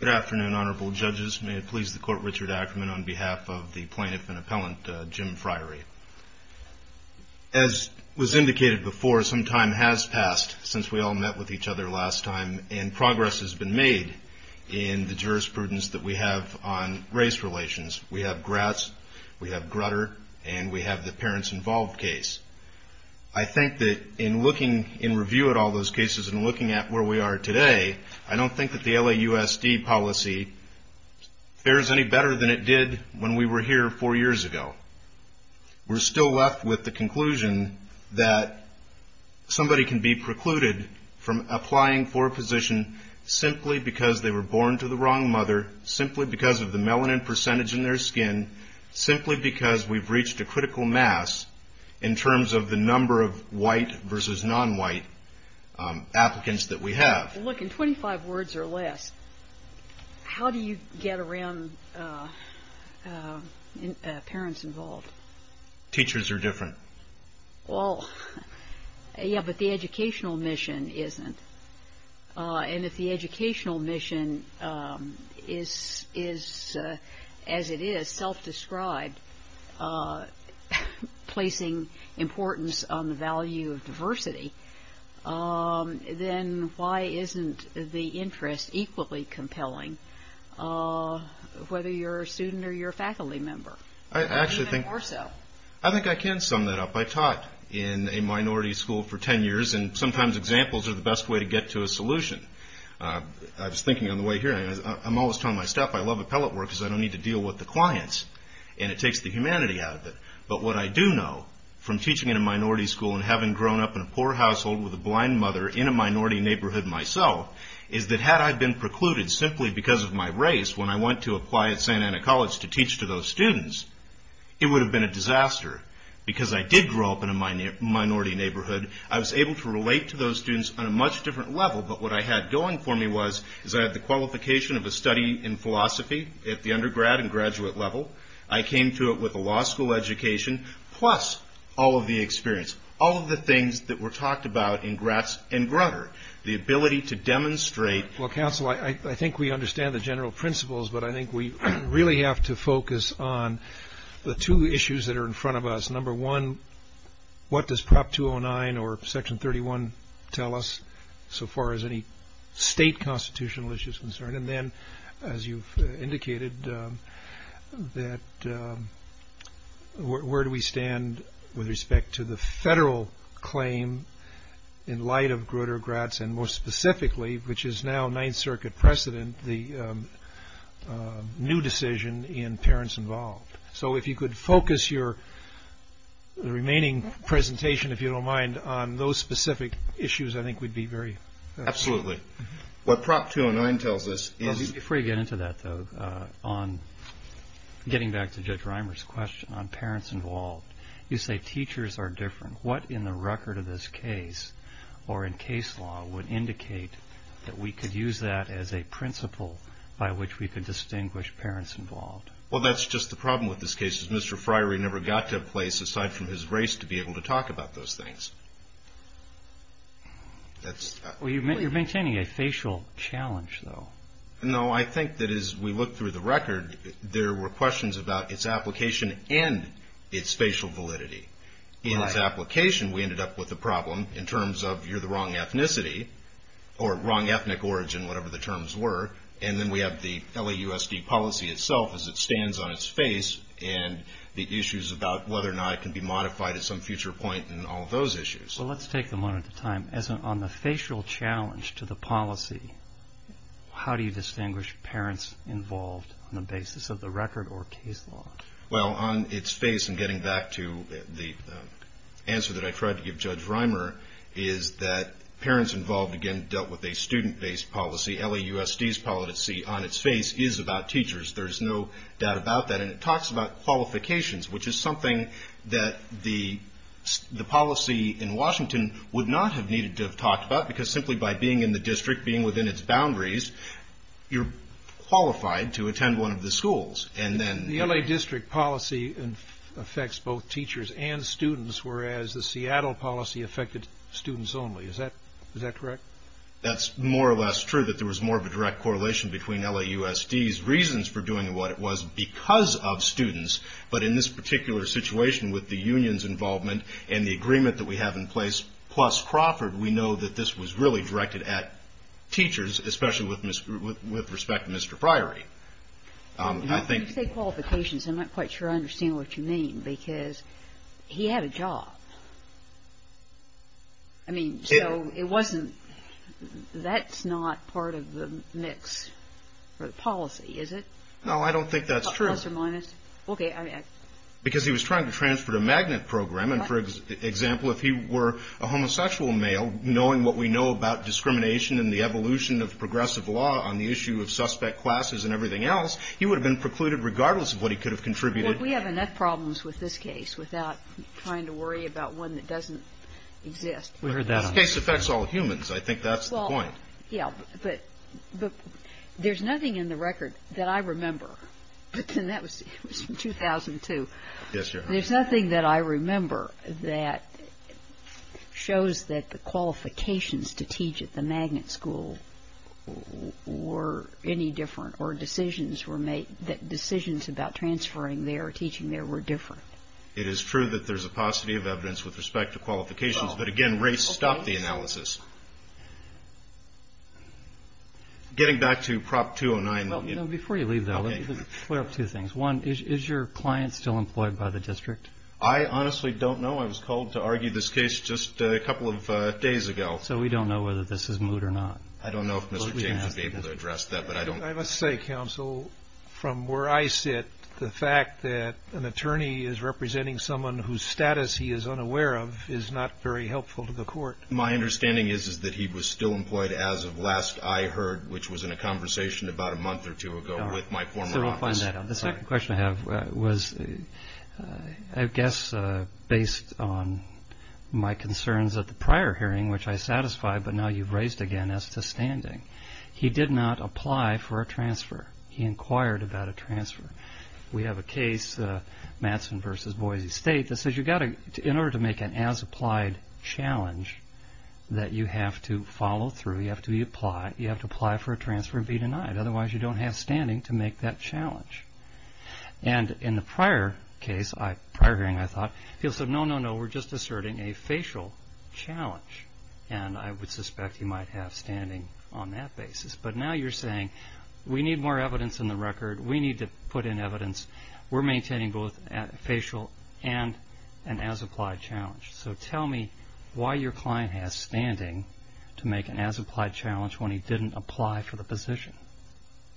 Good afternoon, Honorable Judges. May it please the Court, Richard Ackerman, on behalf of the Plaintiff and Appellant, Jim Friery. As was indicated before, some time has passed since we all met with each other last time, and progress has been made in the jurisprudence that we have on race relations. We have Gratz, we have Grutter, and we have the Parents Involved case. I think that in looking, in review of all those cases, in looking at where we are today, I don't think that the LAUSD policy fares any better than it did when we were here four years ago. We're still left with the conclusion that somebody can be precluded from applying for a position simply because they were born to the wrong mother, simply because of the melanin percentage in their skin, simply because we've reached a critical mass in terms of the number of white versus non-white applicants that we have. Well, look, in 25 words or less, how do you get around Parents Involved? Teachers are different. Well, yeah, but the educational mission isn't. And if the educational mission is, as it is, self-described, placing importance on the value of diversity, then why isn't the interest equally compelling, whether you're a student or you're a faculty member? I actually think I can sum that up. I taught in a minority school for 10 years, and sometimes examples are the best way to get to a solution. I was thinking on the way here, I'm always telling my staff I love appellate work because I don't need to deal with the clients, and it takes the humanity out of it. But what I do know from teaching in a minority school and having grown up in a poor household with a blind mother in a minority neighborhood myself is that had I been precluded simply because of my race when I went to apply at Santa Ana College to teach to those students, it would have been a disaster. Because I did grow up in a minority neighborhood, I was able to relate to those students on a much different level. But what I had going for me was I had the qualification of a study in philosophy at the undergrad and graduate level. I came to it with a law school education plus all of the experience, all of the things that were talked about in Gratz and Grutter, the ability to demonstrate. Well, counsel, I think we understand the general principles, but I think we really have to focus on the two issues that are in front of us. Number one, what does Prop 209 or Section 31 tell us so far as any state constitutional issue is concerned? And then, as you've indicated, that where do we stand with respect to the federal claim in light of Grutter, Gratz, and more specifically, which is now Ninth Circuit precedent, the new decision in parents involved. So if you could focus your remaining presentation, if you don't mind, on those specific issues, I think we'd be very... Absolutely. What Prop 209 tells us is... Before you get into that, though, on getting back to Judge Reimer's question on parents involved, you say teachers are different. What in the record of this case or in case law would indicate that we could use that as a principle by which we could distinguish parents involved? Well, that's just the problem with this case is Mr. Friery never got to a place aside from his race to be able to talk about those things. Well, you're maintaining a facial challenge, though. No, I think that as we look through the record, there were questions about its application and its facial validity. In its application, we ended up with a problem in terms of you're the wrong ethnicity or wrong ethnic origin, whatever the terms were, and then we have the LAUSD policy itself as it stands on its face and the issues about whether or not it can be modified at some future point in all of those issues. Well, let's take them one at a time. On the facial challenge to the policy, how do you distinguish parents involved on the basis of the record or case law? Well, on its face, and getting back to the answer that I tried to give Judge Reimer, is that parents involved, again, dealt with a student-based policy. LAUSD's policy on its face is about teachers. There's no doubt about that. It talks about qualifications, which is something that the policy in Washington would not have needed to have talked about because simply by being in the district, being within its boundaries, you're qualified to attend one of the schools. The LA district policy affects both teachers and students, whereas the Seattle policy affected students only. Is that correct? That's more or less true, that there was more of a direct correlation between LAUSD's reasons for doing what it was because of students, but in this particular situation with the union's involvement and the agreement that we have in place, plus Crawford, we know that this was really directed at teachers, especially with respect to Mr. Priory. When you say qualifications, I'm not quite sure I understand what you mean, because he had a job. I mean, so it wasn't... That's not part of the mix for the policy, is it? No, I don't think that's true. A plus or minus? Okay. Because he was trying to transfer to magnet program, and for example, if he were a homosexual male, knowing what we know about discrimination and the evolution of progressive law on the issue of suspect classes and everything else, he would have been precluded regardless of what he could have contributed. Well, we have enough problems with this case without trying to worry about one that doesn't exist. We heard that on the record. This case affects all humans. I think that's the point. Yeah, but there's nothing in the record that I remember. That was from 2002. Yes, Your Honor. There's nothing that I remember that shows that the qualifications to teach at the magnet school were any different, or decisions were made, decisions about transferring there, teaching there, were different. It is true that there's a paucity of evidence with respect to qualifications, but again, I'm afraid to stop the analysis. Okay. Getting back to Prop 209. Well, before you leave that, let me clear up two things. One, is your client still employed by the district? I honestly don't know. I was called to argue this case just a couple of days ago. So we don't know whether this is moot or not. I don't know if Mr. James would be able to address that, but I don't. I must say, Counsel, from where I sit, the fact that an attorney is representing someone whose status he is unaware of is not very helpful to the court. My understanding is that he was still employed as of last I heard, which was in a conversation about a month or two ago with my former office. So we'll find that out. The second question I have was, I guess, based on my concerns at the prior hearing, which I satisfied, but now you've raised again as to standing. He did not apply for a transfer. He inquired about a transfer. We have a case, Mattson v. Boise State, that says in order to make an as-applied challenge that you have to follow through, you have to apply for a transfer and be denied. Otherwise, you don't have standing to make that challenge. And in the prior case, prior hearing, I thought, he'll say, no, no, no, we're just asserting a facial challenge. And I would suspect he might have standing on that basis. But now you're saying, we need more evidence in the record. We need to put in evidence. We're maintaining both a facial and an as-applied challenge. So tell me why your client has standing to make an as-applied challenge when he didn't apply for the position.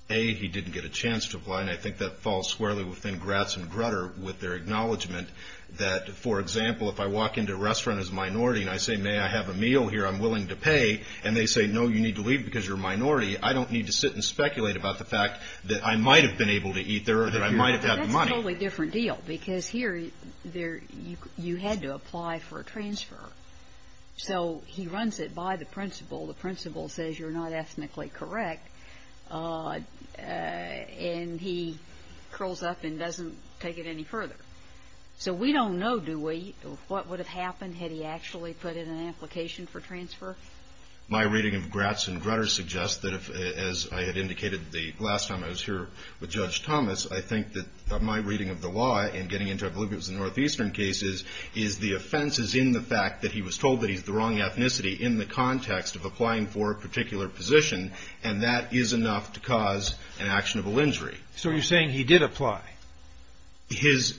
A, he didn't get a chance to apply. And I think that falls squarely within Gratz and Grutter with their acknowledgment that, for example, if I walk into a restaurant as a minority and I say, may I have a meal here I'm willing to pay, and they say, no, you need to leave because you're a minority, I don't need to sit and speculate about the money. That's a totally different deal because here you had to apply for a transfer. So he runs it by the principal. The principal says you're not ethnically correct. And he curls up and doesn't take it any further. So we don't know, do we, what would have happened had he actually put in an application for transfer? My reading of Gratz and Grutter suggests that if, as I had indicated the last time I was here with Judge Thomas, I think that my reading of the law in getting into oblivious Northeastern cases is the offenses in the fact that he was told that he's the wrong ethnicity in the context of applying for a particular position, and that is enough to cause an actionable injury. So you're saying he did apply? His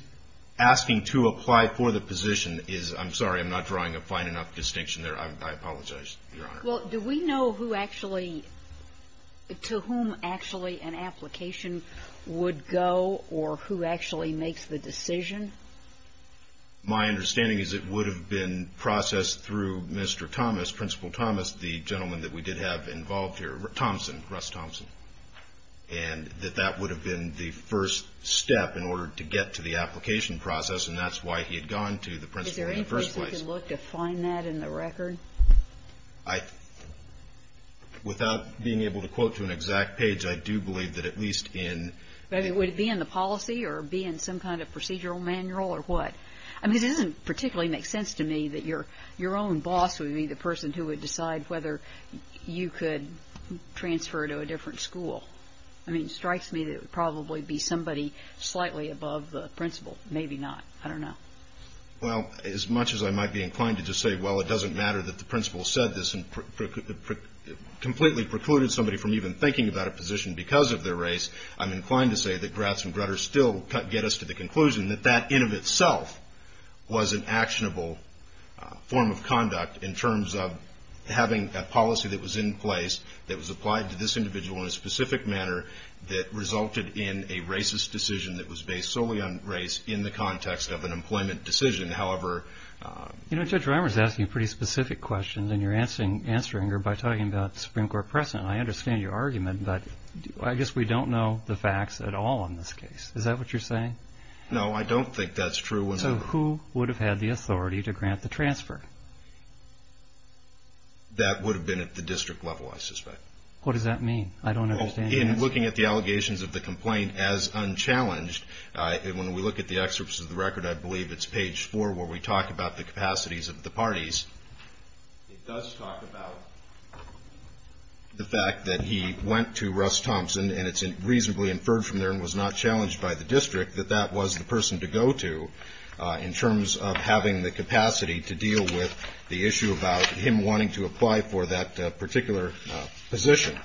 asking to apply for the position is, I'm sorry, I'm not drawing a fine enough distinction there. I apologize, Your Honor. Well, do we know who actually, to whom actually an application would go or who actually makes the decision? My understanding is it would have been processed through Mr. Thomas, Principal Thomas, the gentleman that we did have involved here, Thompson, Russ Thompson. And that that would have been the first step in order to get to the application process, and that's why he had gone to the principal in the first place. Is there any place we can look to find that in the record? I, without being able to quote to an exact page, I do believe that at least in Would it be in the policy or be in some kind of procedural manual or what? I mean, it doesn't particularly make sense to me that your own boss would be the person who would decide whether you could transfer to a different school. I mean, it strikes me that it would probably be somebody slightly above the principal. Maybe not. I don't know. Well, as much as I might be inclined to just say, well, it doesn't matter that the principal said this and completely precluded somebody from even thinking about a position because of their race, I'm inclined to say that grats and grudges still get us to the conclusion that that in of itself was an actionable form of conduct in terms of having a policy that was in place that was applied to this individual in a specific manner that resulted in a racist decision that was based solely on race in the context of an employment decision. However, you know, Judge Rimer is asking pretty specific questions and you're answering answering her by talking about Supreme Court precedent. I understand your argument, but I guess we don't know the facts at all in this case. Is that what you're saying? No, I don't think that's true. So who would have had the authority to grant the transfer? That would have been at the district level, I suspect. What does that mean? I don't understand. In looking at the allegations of the complaint as unchallenged, when we look at the excerpts of the record, I believe it's page four where we talk about the capacities of the parties. It does talk about the fact that he went to Russ Thompson and it's reasonably inferred from there and was not challenged by the district that that was the person to go to in terms of having the capacity to deal with the issue about him wanting to apply for that particular position.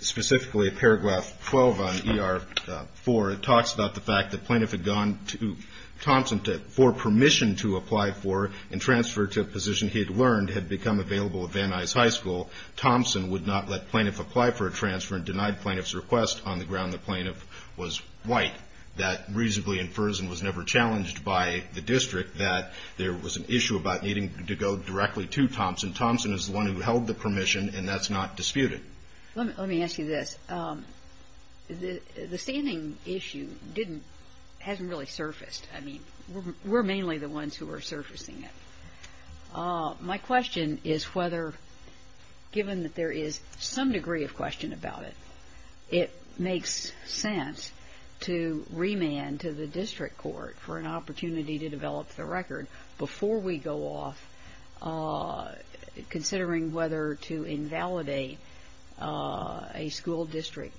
Specifically, paragraph 12 on ER 4, it talks about the fact that Plaintiff had gone to Thompson for permission to apply for and transfer to a position he had learned had become available at Van Nuys High School. Thompson would not let Plaintiff apply for a transfer and denied Plaintiff's request on the ground that Plaintiff was white. That reasonably infers and was never challenged by the district that there was an issue about needing to go directly to Thompson. Thompson is the one who held the permission and that's not disputed. Let me ask you this. The standing issue hasn't really surfaced. I mean, we're mainly the ones who are surfacing it. My question is whether, given that there is some degree of question about it, it makes sense to remand to the district court for an opportunity to consider whether to invalidate a school district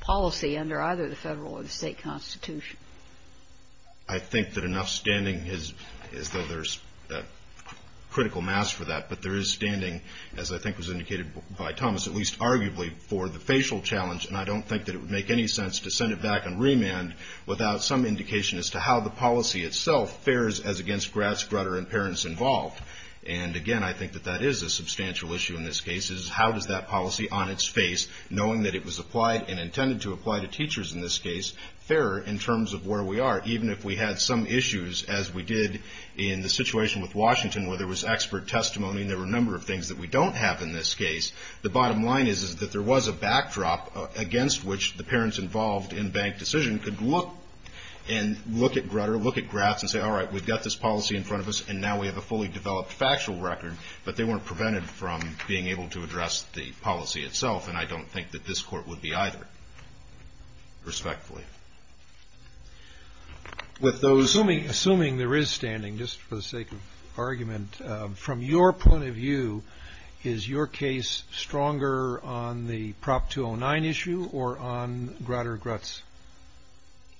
policy under either the federal or the state constitution. I think that enough standing is that there's a critical mass for that, but there is standing, as I think was indicated by Thomas, at least arguably for the facial challenge, and I don't think that it would make any sense to send it back and remand without some indication as to how the policy itself fares as against grads, grutter and parents involved. And again, I think that that is a substantial issue in this case, is how does that policy on its face, knowing that it was applied and intended to apply to teachers in this case, fare in terms of where we are, even if we had some issues as we did in the situation with Washington where there was expert testimony and there were a number of things that we don't have in this case. The bottom line is that there was a backdrop against which the parents involved in bank decision could look at grutter, look at grads and say, all right, we've got this policy in front of us and now we have a fully developed factual record, but they weren't prevented from being able to address the policy itself, and I don't think that this court would be either, respectfully. With those... Assuming there is standing, just for the sake of argument, from your point of view, is your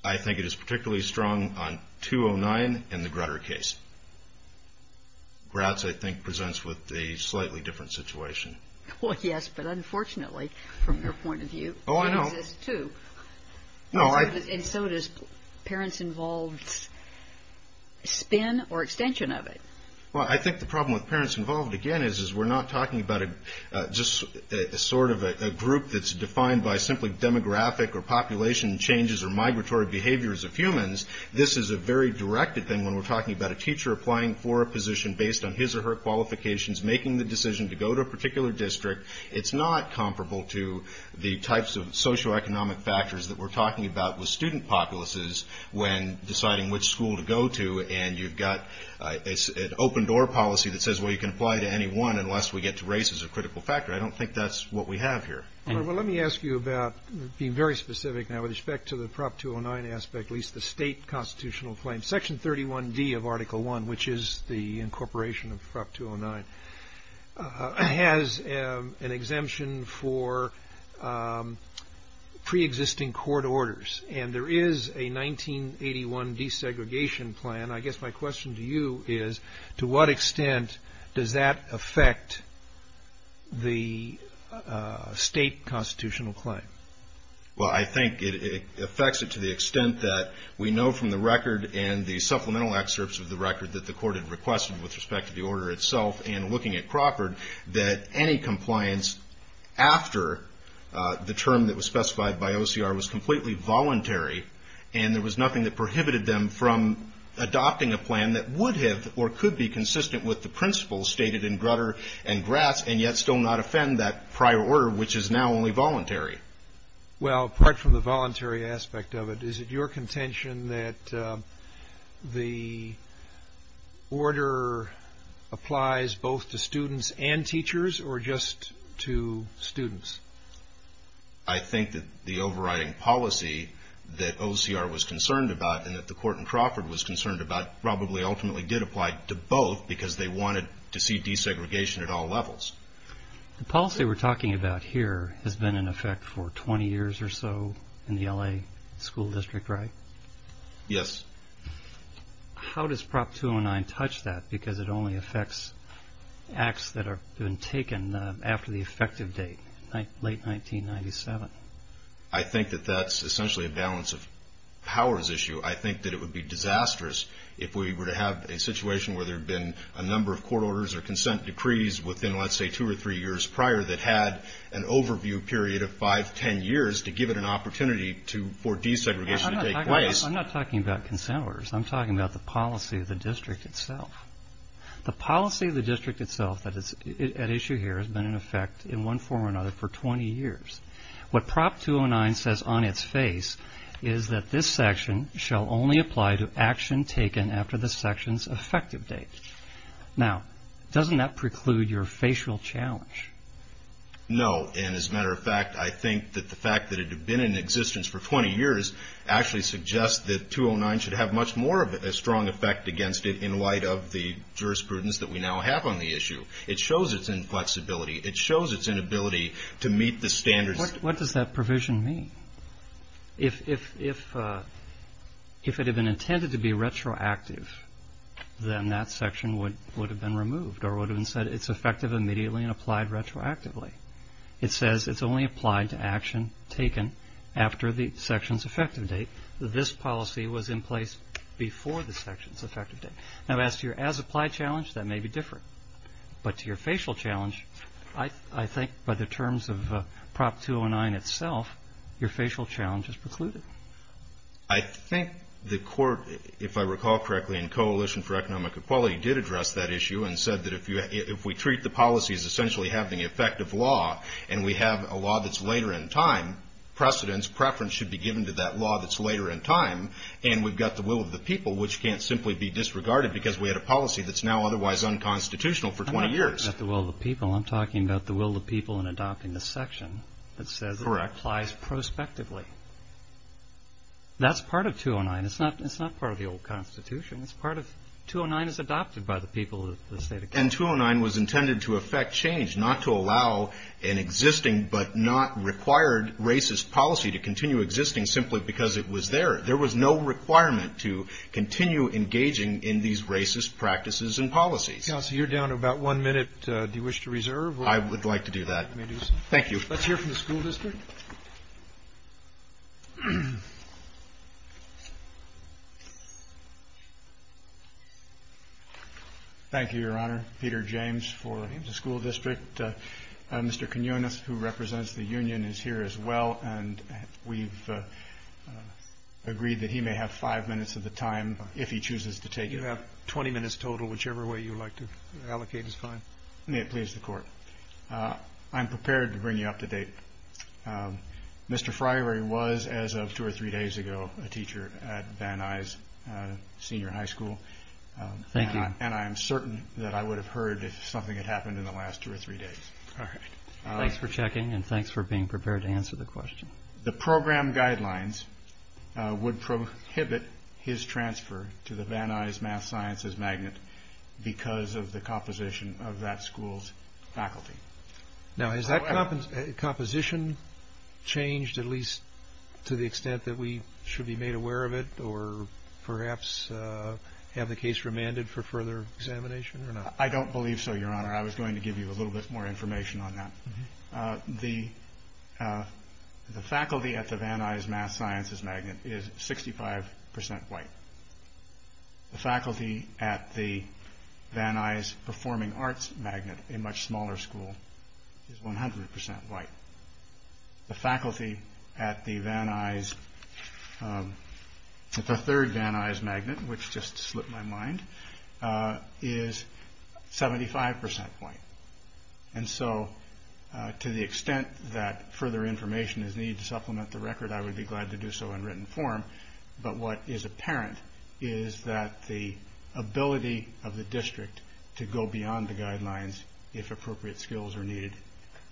I think it is particularly strong on 209 and the grutter case. Grads, I think, presents with a slightly different situation. Well, yes, but unfortunately, from your point of view... Oh, I know. ...it exists too. No, I... And so does parents involved spin or extension of it? Well, I think the problem with parents involved, again, is we're not talking about just sort of a group that's defined by simply demographic or population changes or migratory behaviors of humans. This is a very directed thing when we're talking about a teacher applying for a position based on his or her qualifications, making the decision to go to a particular district. It's not comparable to the types of socioeconomic factors that we're talking about with student populaces when deciding which school to go to, and you've got an open door policy that says, well, you can apply to any one unless we get to race as a critical factor. I don't think that's what we have here. All right, well, let me ask you about being very specific now with respect to the Prop 209 aspect, at least the state constitutional claim. Section 31D of Article I, which is the incorporation of Prop 209, has an exemption for preexisting court orders, and there is a 1981 desegregation plan. I guess my question to you is, to what extent does that affect the state constitutional claim? Well, I think it affects it to the extent that we know from the record and the supplemental excerpts of the record that the court had requested with respect to the order itself and looking at Crawford, that any compliance after the term that was specified by OCR was completely voluntary, and there was nothing that prohibited them from adopting a plan that would have or could be consistent with the principles stated in Grutter and Gratz and yet still not offend that prior order, which is now only voluntary. Well, apart from the voluntary aspect of it, is it your contention that the order applies both to students and teachers or just to students? I think that the overriding policy that OCR was concerned about and that the court in ultimately did apply to both because they wanted to see desegregation at all levels. The policy we're talking about here has been in effect for 20 years or so in the L.A. school district, right? Yes. How does Prop 209 touch that because it only affects acts that have been taken after the effective date, late 1997? I think that that's essentially a balance of powers issue. I think that it would be strange to have a situation where there'd been a number of court orders or consent decrees within, let's say, two or three years prior that had an overview period of five, ten years to give it an opportunity for desegregation to take place. I'm not talking about consent orders. I'm talking about the policy of the district itself. The policy of the district itself at issue here has been in effect in one form or another for 20 years. What Prop 209 says on its face is that this section shall only apply to action taken after the section's effective date. Now, doesn't that preclude your facial challenge? No. And as a matter of fact, I think that the fact that it had been in existence for 20 years actually suggests that 209 should have much more of a strong effect against it in light of the jurisprudence that we now have on the issue. It shows its inflexibility. It shows its inability to meet the standards. What does that provision mean? If it had been intended to be retroactive, then that section would have been removed or would have said it's effective immediately and applied retroactively. It says it's only applied to action taken after the section's effective date. This policy was in place before the section's effective date. Now, as to your as-applied challenge, that may be different. But to your facial challenge, I think by the terms of Prop 209 itself, your facial challenge is precluded. I think the court, if I recall correctly, in Coalition for Economic Equality did address that issue and said that if we treat the policy as essentially having effective law and we have a law that's later in time, precedence, preference should be given to that law that's later in time, and we've got the will of the people, which can't simply be disregarded because we had a policy that's now otherwise unconstitutional for 20 years. I'm not talking about the will of the people. I'm talking about the will of the people in adopting the section that says it applies prospectively. That's part of 209. It's not part of the old Constitution. 209 is adopted by the people of the state of California. And 209 was intended to affect change, not to allow an existing but not required racist policy to continue existing simply because it was there. There was no requirement to continue engaging in these racist practices and policies. Counsel, you're down to about one minute. Do you wish to reserve? I would like to do that. Let me do so. Thank you. Let's hear from the school district. Thank you, Your Honor. Peter James for the school district. Mr. Quinones, who represents the union, is here as well, and we've agreed that he may have five minutes of the time if he chooses to take it. You have 20 minutes total. Whichever way you like to allocate is fine. May it please the Court. I'm prepared to bring you up to date. Mr. Friary was, as of two or three days ago, a teacher at Van Nuys Senior High School, and I am certain that I would have heard if something had happened in the last two or three days. All right. Thanks for checking, and thanks for being prepared to answer the question. The program guidelines would prohibit his transfer to the Van Nuys Math Sciences Magnet because of the composition of that school's faculty. Now has that composition changed at least to the extent that we should be made aware of it or perhaps have the case remanded for further examination or not? I don't believe so, Your Honor. I was going to give you a little bit more information on that. The faculty at the Van Nuys Math Sciences Magnet is 65 percent white. The faculty at the Van Nuys Performing Arts Magnet, a much smaller school, is 100 percent white. The faculty at the third Van Nuys Magnet, which just slipped my mind, is 75 percent white. To the extent that further information is needed to supplement the record, I would be glad to do so in written form, but what is apparent is that the ability of the district to go beyond the guidelines, if appropriate skills are needed,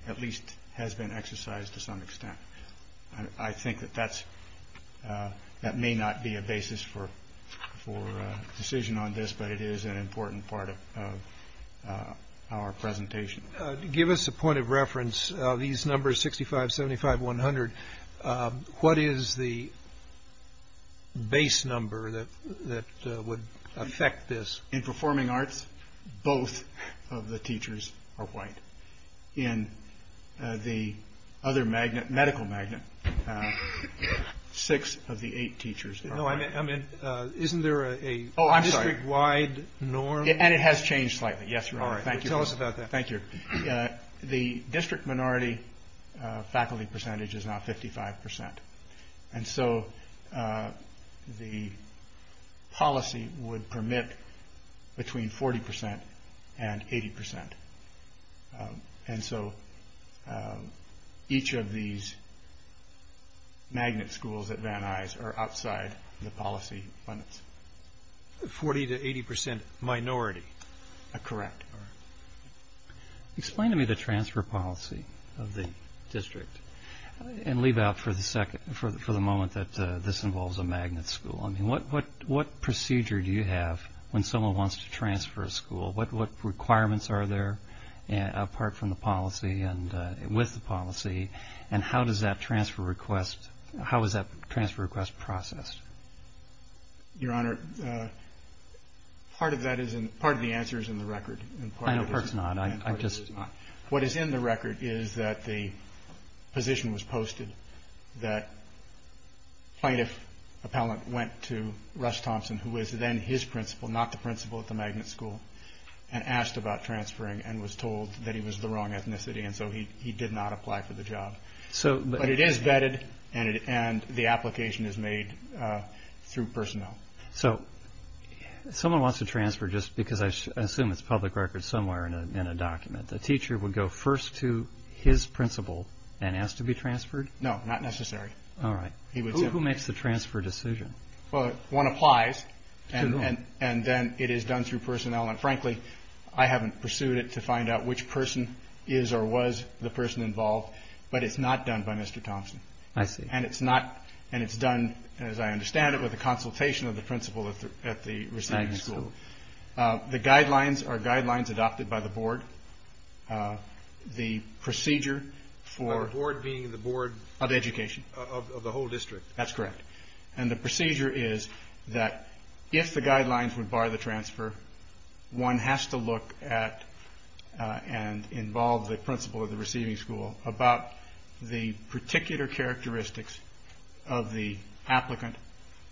at least has been exercised to some extent. I think that that may not be a basis for decision on this, but it is an important part of our presentation. Give us a point of reference. These numbers, 65, 75, 100, what is the base number that would affect this? In Performing Arts, both of the teachers are white. In the other medical magnet, six of the eight teachers are white. No, I meant, isn't there a district-wide norm? Oh, I'm sorry. And it has changed slightly, yes, Your Honor. All right. Tell us about that. Thank you. The district minority faculty percentage is now 55 percent, and so the policy would permit between 40 percent and 80 percent. And so each of these magnet schools at Van Nuys are outside the policy limits. A 40 to 80 percent minority. Correct. Explain to me the transfer policy of the district, and leave out for the moment that this involves a magnet school. I mean, what procedure do you have when someone wants to transfer a school? What requirements are there apart from the policy and with the policy, and how does that transfer request, how is that transfer request processed? Your Honor, part of that is, part of the answer is in the record, and part of it is not. What is in the record is that the position was posted that plaintiff appellant went to Russ Thompson, who was then his principal, not the principal at the magnet school, and asked about transferring, and was told that he was the wrong ethnicity, and so he did not apply for the job. But it is vetted, and the application is made through personnel. So someone wants to transfer just because I assume it's public record somewhere in a document. A teacher would go first to his principal and ask to be transferred? No, not necessary. All right. Who makes the transfer decision? Well, one applies, and then it is done through personnel, and frankly, I haven't pursued it to find out which person is or was the person involved, but it's not done by Mr. Thompson. I see. And it's not, and it's done, as I understand it, with a consultation of the principal at the receiving school. Magnet school. Magnet school. The guidelines are guidelines adopted by the board. The procedure for... By the board being the board... Of education. Of the whole district. That's correct. And the procedure is that if the guidelines would bar the transfer, one has to look at and involve the principal of the receiving school about the particular characteristics of the applicant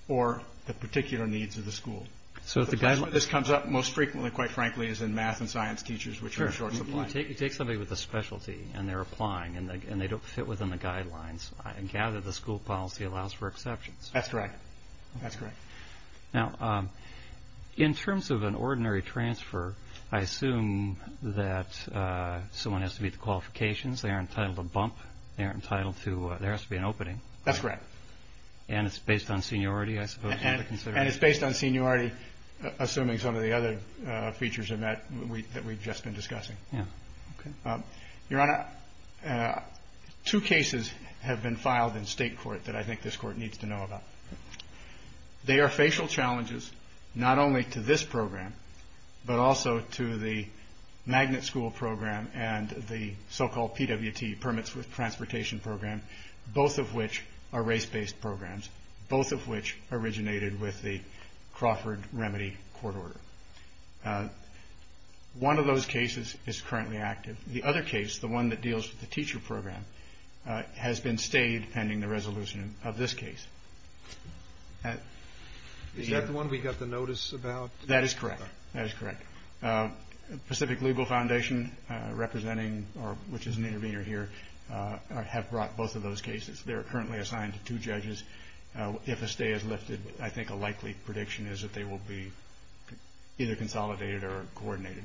or the particular needs of the school. So if the guidelines... This comes up most frequently, quite frankly, as in math and science teachers, which are short supply. Sure. You take somebody with a specialty, and they're applying, and they don't fit within the guidelines, I gather the school policy allows for exceptions. That's correct. That's correct. Now, in terms of an ordinary transfer, I assume that someone has to meet the qualifications. They are entitled to bump. They are entitled to... There has to be an opening. That's correct. And it's based on seniority, I suppose, you would consider. And it's based on seniority, assuming some of the other features that we've just been discussing. Your Honor, two cases have been filed in state court that I think this court needs to know about. They are facial challenges, not only to this program, but also to the Magnet School program and the so-called PWT, Permits with Transportation program, both of which are race-based programs, both of which originated with the Crawford Remedy court order. One of those cases is currently active. The other case, the one that deals with the teacher program, has been stayed pending the resolution of this case. Is that the one we got the notice about? That is correct. That is correct. Pacific Legal Foundation representing, which is an intervener here, have brought both of those cases. They are currently assigned to two judges. If a stay is lifted, I think a likely prediction is that they will be either consolidated or coordinated.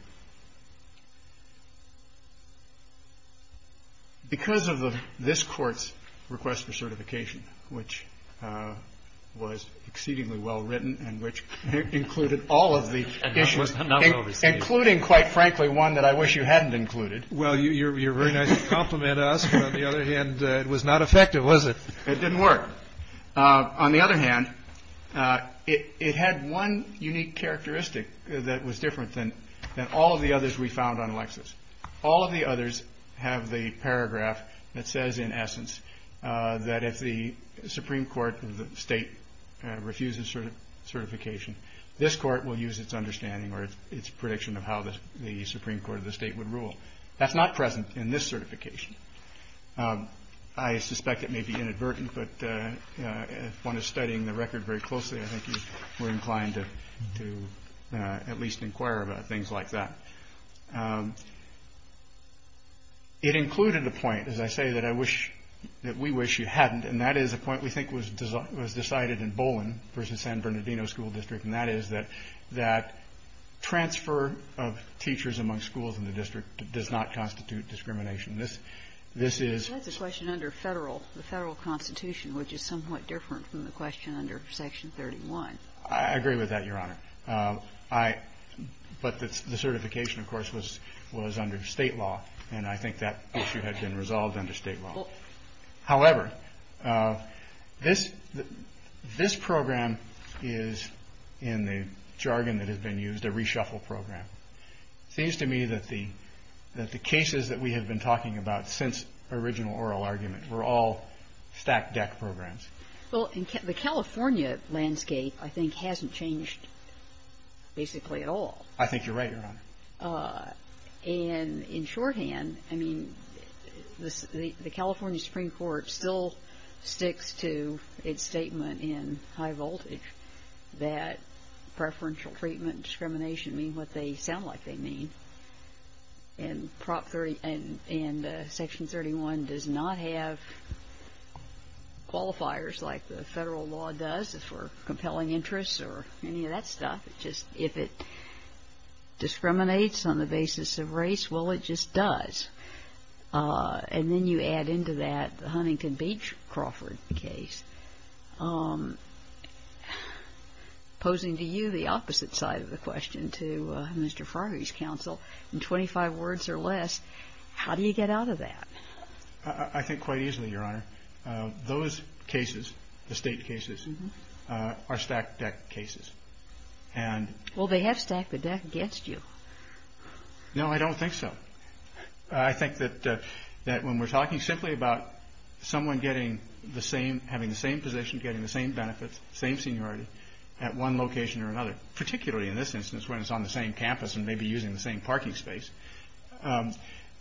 Because of this court's request for certification, which was exceedingly well-written and which included all of the issues, including, quite frankly, one that I wish you hadn't included. Well, you're very nice to compliment us. On the other hand, it was not effective, was it? It didn't work. On the other hand, it had one unique characteristic that was different than all of the others we found on Alexis. All of the others have the paragraph that says, in essence, that if the Supreme Court of the state refuses certification, this court will use its understanding or its prediction of how the Supreme Court of the state would rule. That's not present in this certification. I suspect it may be inadvertent, but if one is studying the record very closely, I think you're inclined to at least inquire about things like that. It included a point, as I say, that we wish you hadn't. And that is a point we think was decided in Bolin versus San Bernardino School District. And that is that transfer of teachers among schools in the district does not constitute discrimination. This is the question under the Federal Constitution, which is somewhat different from the question under Section 31. I agree with that, Your Honor. But the certification, of course, was under state law, and I think that issue had been resolved under state law. However, this program is, in the jargon that has been used, a reshuffle program. It seems to me that the cases that we have been talking about since original oral argument were all stack deck programs. Well, the California landscape, I think, hasn't changed basically at all. I think you're right, Your Honor. And in shorthand, I mean, the California Supreme Court still sticks to its statement in high voltage that preferential treatment and discrimination mean what they sound like they mean. And Section 31 does not have qualifiers like the federal law does for compelling interests or any of that stuff. Just if it discriminates on the basis of race, well, it just does. And then you add into that the Huntington Beach Crawford case, posing to you the opposite side of the question to Mr. Farley's counsel, in 25 words or less, how do you get out of that? I think quite easily, Your Honor. Those cases, the state cases, are stack deck cases. Well, they have stacked the deck against you. No, I don't think so. I think that when we're talking simply about someone having the same position, getting the same benefits, same seniority at one location or another, particularly in this instance, when it's on the same campus and maybe using the same parking space,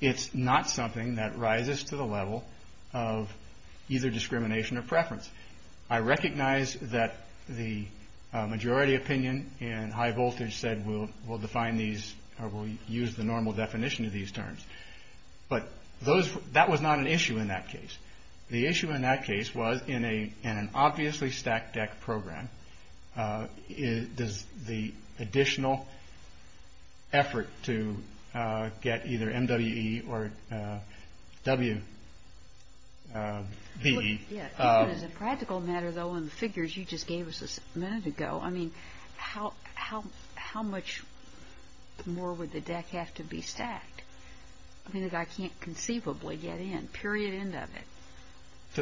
it's not something that rises to the level of either discrimination or preference. I recognize that the majority opinion in high voltage said we'll define these or we'll use the normal definition of these terms. But that was not an issue in that case. The issue in that case was in an obviously stacked deck program, does the practical matter, though, in the figures you just gave us a minute ago, I mean, how much more would the deck have to be stacked? I mean, the guy can't conceivably get in, period, end of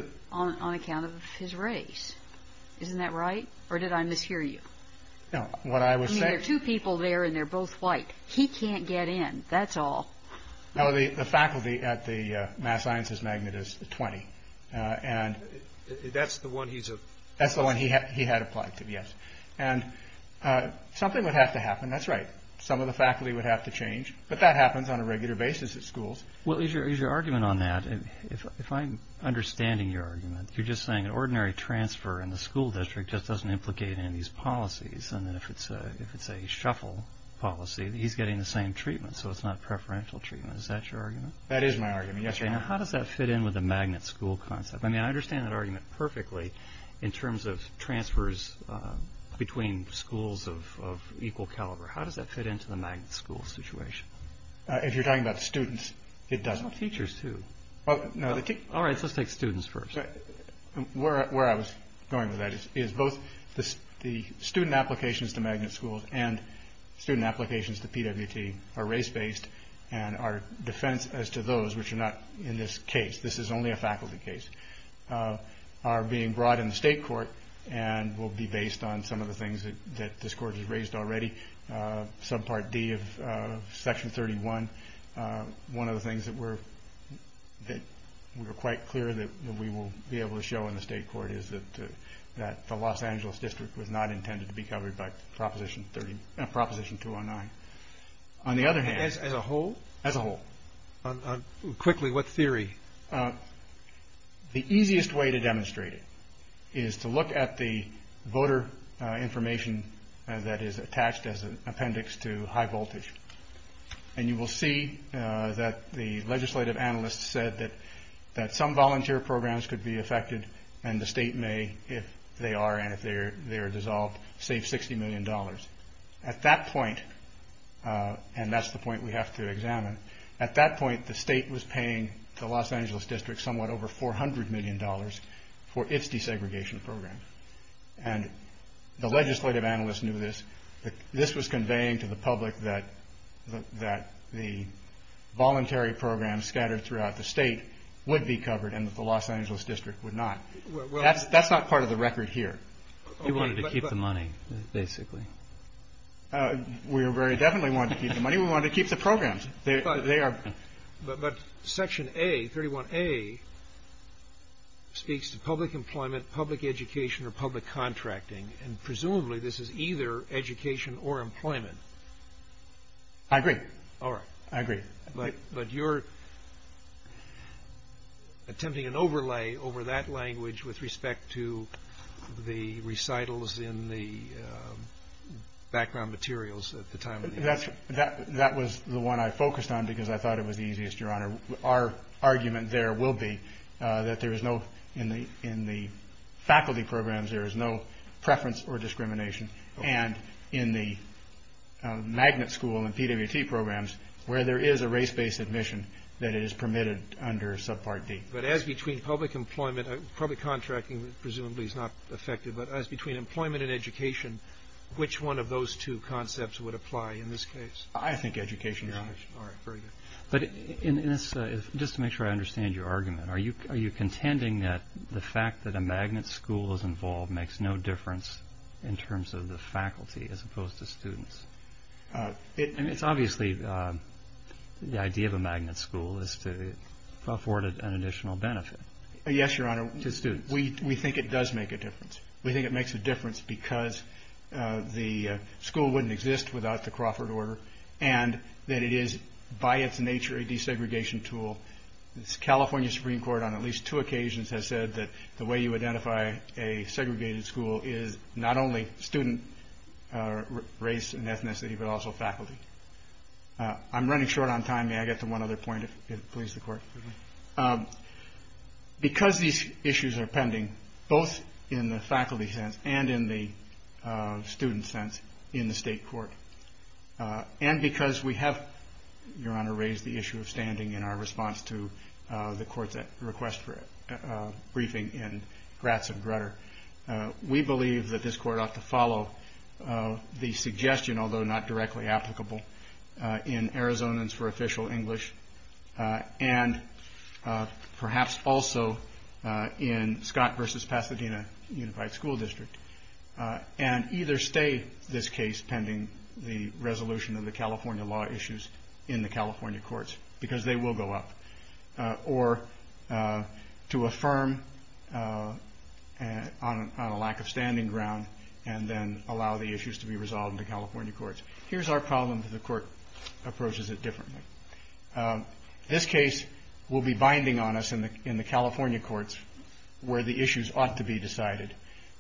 it, on account of his race. Isn't that right? Or did I mishear you? No, what I was saying... I mean, there are two people there and they're both white. He can't get in. That's all. Now, the faculty at the Mass Sciences Magnet is 20. And that's the one he's... That's the one he had applied to, yes. And something would have to happen. That's right. Some of the faculty would have to change. But that happens on a regular basis at schools. Well, is your argument on that, if I'm understanding your argument, you're just saying an ordinary transfer in the school district just doesn't implicate in these policies. And then if it's a shuffle policy, he's getting the same treatment. So it's not preferential treatment. Is that your argument? That is my argument. Yes, sir. Now, how does that fit in with the Magnet school concept? I mean, I understand that argument perfectly in terms of transfers between schools of equal caliber. How does that fit into the Magnet school situation? If you're talking about students, it doesn't. Well, teachers, too. Oh, no. All right. So let's take students first. Where I was going with that is both the student applications to Magnet schools and student applications to PWT are race based. And our defense as to those which are not in this case, this is only a faculty case, are being brought in the state court and will be based on some of the things that this court has raised already. Subpart D of Section 31, one of the things that we're quite clear that we will be able to show in the state court is that the Los Angeles district was not intended to be Proposition 209. On the other hand, as a whole, as a whole. Quickly, what theory? The easiest way to demonstrate it is to look at the voter information that is attached as an appendix to high voltage. And you will see that the legislative analysts said that that some volunteer programs could be affected and the state may, if they are and if they're they're dissolved, save 60 million dollars. At that point, and that's the point we have to examine, at that point, the state was paying the Los Angeles district somewhat over 400 million dollars for its desegregation program. And the legislative analysts knew this. This was conveying to the public that the voluntary programs scattered throughout the state would be covered and that the Los Angeles district would not. That's not part of the record here. You wanted to keep the money, basically. We are very definitely want to keep the money. We want to keep the programs. They are. But Section A, 31A, speaks to public employment, public education or public contracting. And presumably this is either education or employment. I agree. All right. I agree. But but you're. Attempting an overlay over that language with respect to the recitals in the background materials at the time. That's that that was the one I focused on because I thought it was the easiest. Your Honor, our argument there will be that there is no in the in the faculty programs, there is no preference or discrimination. And in the magnet school and PwT programs where there is a race based admission that is permitted under subpart D. But as between public employment, public contracting presumably is not effective, but as between employment and education, which one of those two concepts would apply in this case? I think education. All right. Very good. But just to make sure I understand your argument, are you are you contending that the fact that a magnet school is involved makes no difference in terms of the faculty as opposed to students? I mean, it's obviously the idea of a magnet school is to afford an additional benefit. Yes, Your Honor, to students. We we think it does make a difference. We think it makes a difference because the school wouldn't exist without the Crawford order and that it is by its nature a desegregation tool. This California Supreme Court on at least two occasions has said that the way you identify a segregated school is not only student race and ethnicity, but also faculty. I'm running short on time. Because these issues are pending, both in the faculty sense and in the student sense in the state court, and because we have, Your Honor, raised the issue of standing in our response to the court's request for a briefing in Gratz and Grutter, we believe that this court ought to follow the suggestion, although not in Gratz and Grutter, but perhaps also in Scott versus Pasadena Unified School District, and either stay this case pending the resolution of the California law issues in the California courts, because they will go up, or to affirm on a lack of standing ground and then allow the issues to be resolved in the California courts. Here's our problem that the court approaches it differently. This case will be binding on us in the California courts where the issues ought to be decided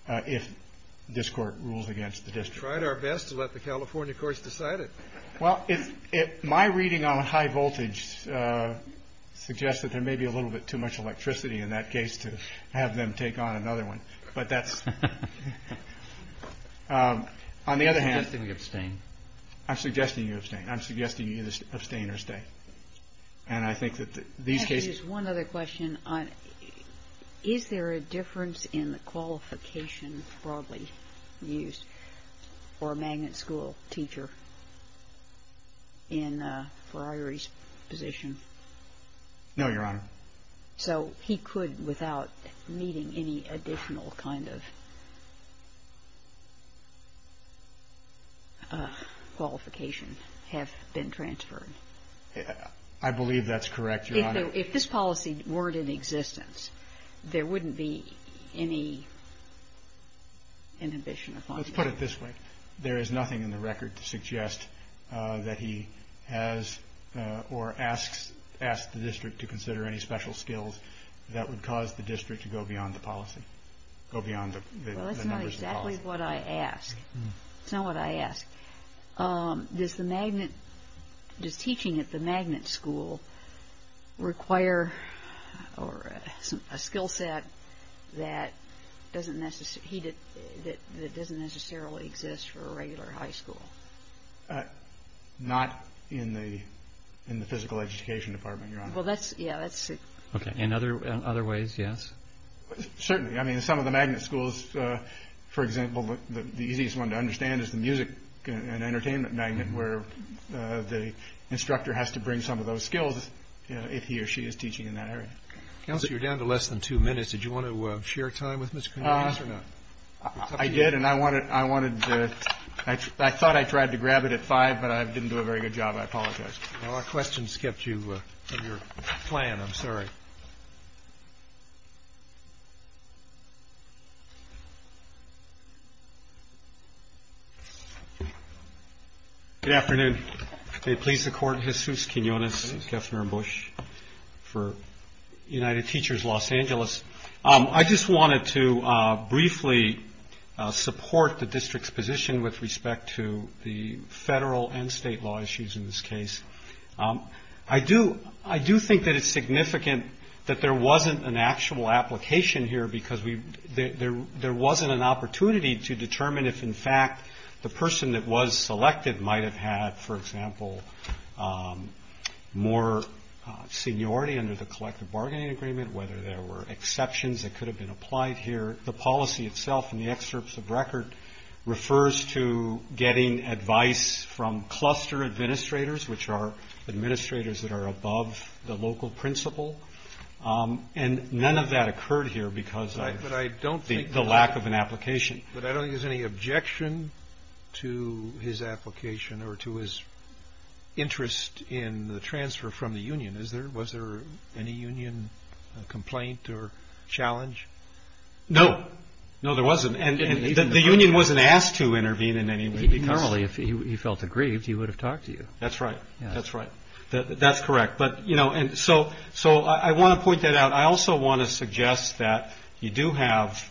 if this court rules against the district. We've tried our best to let the California courts decide it. Well, my reading on high voltage suggests that there may be a little bit too much electricity in that case to have them take on another one, but that's... On the other hand... I'm suggesting we abstain. I'm suggesting you abstain. I'm suggesting you abstain or stay. And I think that these cases... I could use one other question. Is there a difference in the qualification broadly used for a magnet school teacher in Friary's position? No, Your Honor. So he could, without needing any additional kind of qualification, have been transferred? I believe that's correct, Your Honor. If this policy weren't in existence, there wouldn't be any inhibition upon... Let's put it this way. There is nothing in the record to suggest that he has or asks the district to consider any special skills that would cause the district to go beyond the policy. Go beyond the numbers of the policy. Well, that's not exactly what I ask. That's not what I ask. Does teaching at the magnet school require a skill set that doesn't necessarily exist for a regular high school? Not in the physical education department, Your Honor. Well, that's... Yeah, that's it. Okay. In other ways, yes? Certainly. I mean, in some of the magnet schools, for example, the easiest one to understand is the music and entertainment magnet, where the instructor has to bring some of those skills if he or she is teaching in that area. Counselor, you're down to less than two minutes. Did you want to share time with Ms. Cornelius or not? I did. And I thought I tried to grab it at five, but I didn't do a very good job. I apologize. Our questions kept you from your plan. I'm sorry. Good afternoon. May it please the Court, Jesus Quinones, Kefner and Bush for United Teachers Los Angeles. I just wanted to briefly support the district's position with respect to the federal and state law issues in this case. I do think that it's significant that there wasn't an actual application here because there wasn't an opportunity to determine if, in fact, the person that was selected might have had, for example, more seniority under the collective bargaining agreement, whether there were exceptions that could have been applied here. The policy itself in the excerpts of record refers to getting advice from cluster administrators, which are administrators that are above the local principle. And none of that occurred here because of the lack of an application. But I don't think there's any objection to his application or to his interest in the transfer from the union, is there? Was there any union complaint or challenge? No. No, there wasn't. And the union wasn't asked to intervene in any way. Normally, if he felt aggrieved, he would have talked to you. That's right. That's right. That's correct. But, you know, and so I want to point that out. I also want to suggest that you do have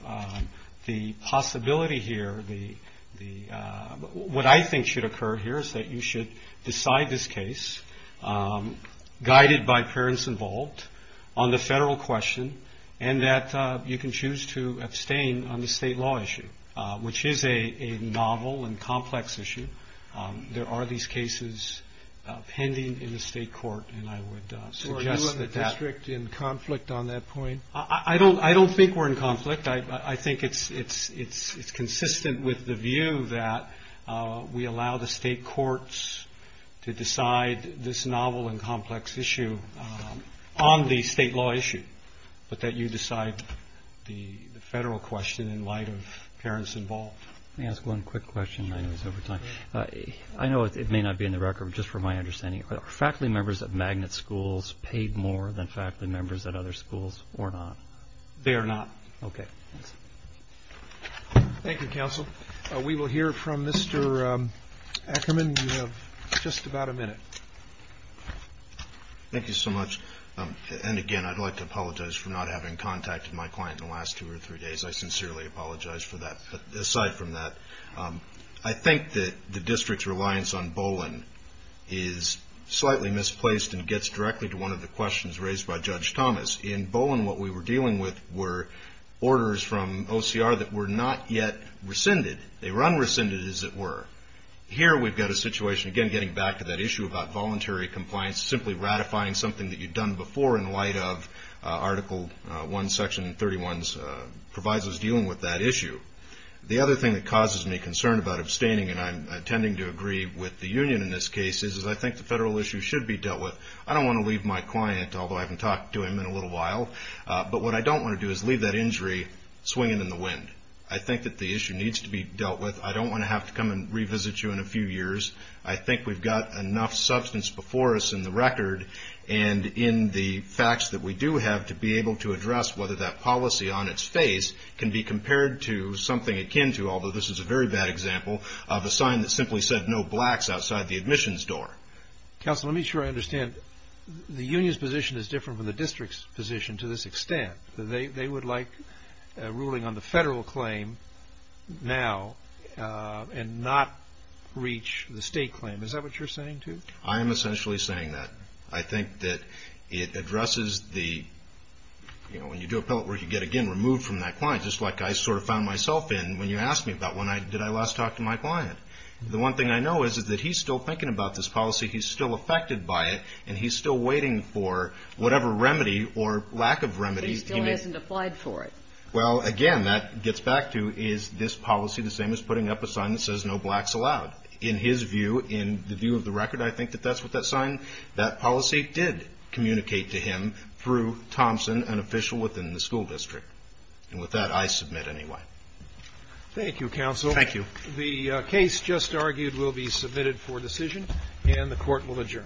the possibility here. What I think should occur here is that you should decide this case, guided by parents involved, on the federal question, and that you can choose to abstain on the state law issue, which is a novel and complex issue. There are these cases pending in the state court. And I would suggest that that... So are you and the district in conflict on that point? I don't think we're in conflict. I think it's consistent with the view that we allow the state courts to decide this novel and complex issue on the state law issue, but that you decide the federal question in terms of parents involved. Let me ask one quick question. I know it's over time. I know it may not be in the record, but just for my understanding, are faculty members at Magnet schools paid more than faculty members at other schools or not? They are not. Okay. Thank you, counsel. We will hear from Mr. Ackerman. You have just about a minute. Thank you so much. And again, I'd like to apologize for not having contacted my client in the last two or three days. I sincerely apologize for that. Aside from that, I think that the district's reliance on Bolin is slightly misplaced and gets directly to one of the questions raised by Judge Thomas. In Bolin, what we were dealing with were orders from OCR that were not yet rescinded. They were unrescinded, as it were. Here, we've got a situation, again, getting back to that issue about voluntary compliance, simply ratifying something that you'd done before in light of Article 1, Section 31's provisos dealing with that issue. The other thing that causes me concern about abstaining, and I'm tending to agree with the union in this case, is I think the federal issue should be dealt with. I don't want to leave my client, although I haven't talked to him in a little while, but what I don't want to do is leave that injury swinging in the wind. I think that the issue needs to be dealt with. I don't want to have to come and revisit you in a few years. I think we've got enough substance before us in the record and in the facts that we do have to be able to address whether that policy on its face can be compared to something akin to, although this is a very bad example, of a sign that simply said, no blacks outside the admissions door. Counselor, let me make sure I understand. The union's position is different from the district's position to this extent. They would like a ruling on the federal claim now and not reach the state claim. Is that what you're saying, too? I am essentially saying that. I think that it addresses the, you know, when you do appellate work, you get, again, removed from that client, just like I sort of found myself in when you asked me about when I, did I last talk to my client? The one thing I know is, is that he's still thinking about this policy. He's still affected by it, and he's still waiting for whatever remedy or lack of remedy. But he still hasn't applied for it. Well, again, that gets back to, is this policy the same as putting up a sign that says, no blacks allowed? In his view, in the view of the record, I think that that's what that sign, that policy did communicate to him through Thompson, an official within the school district. And with that, I submit anyway. Thank you, Counsel. Thank you. The case just argued will be submitted for decision and the court will adjourn. Thank you.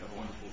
Have a wonderful day.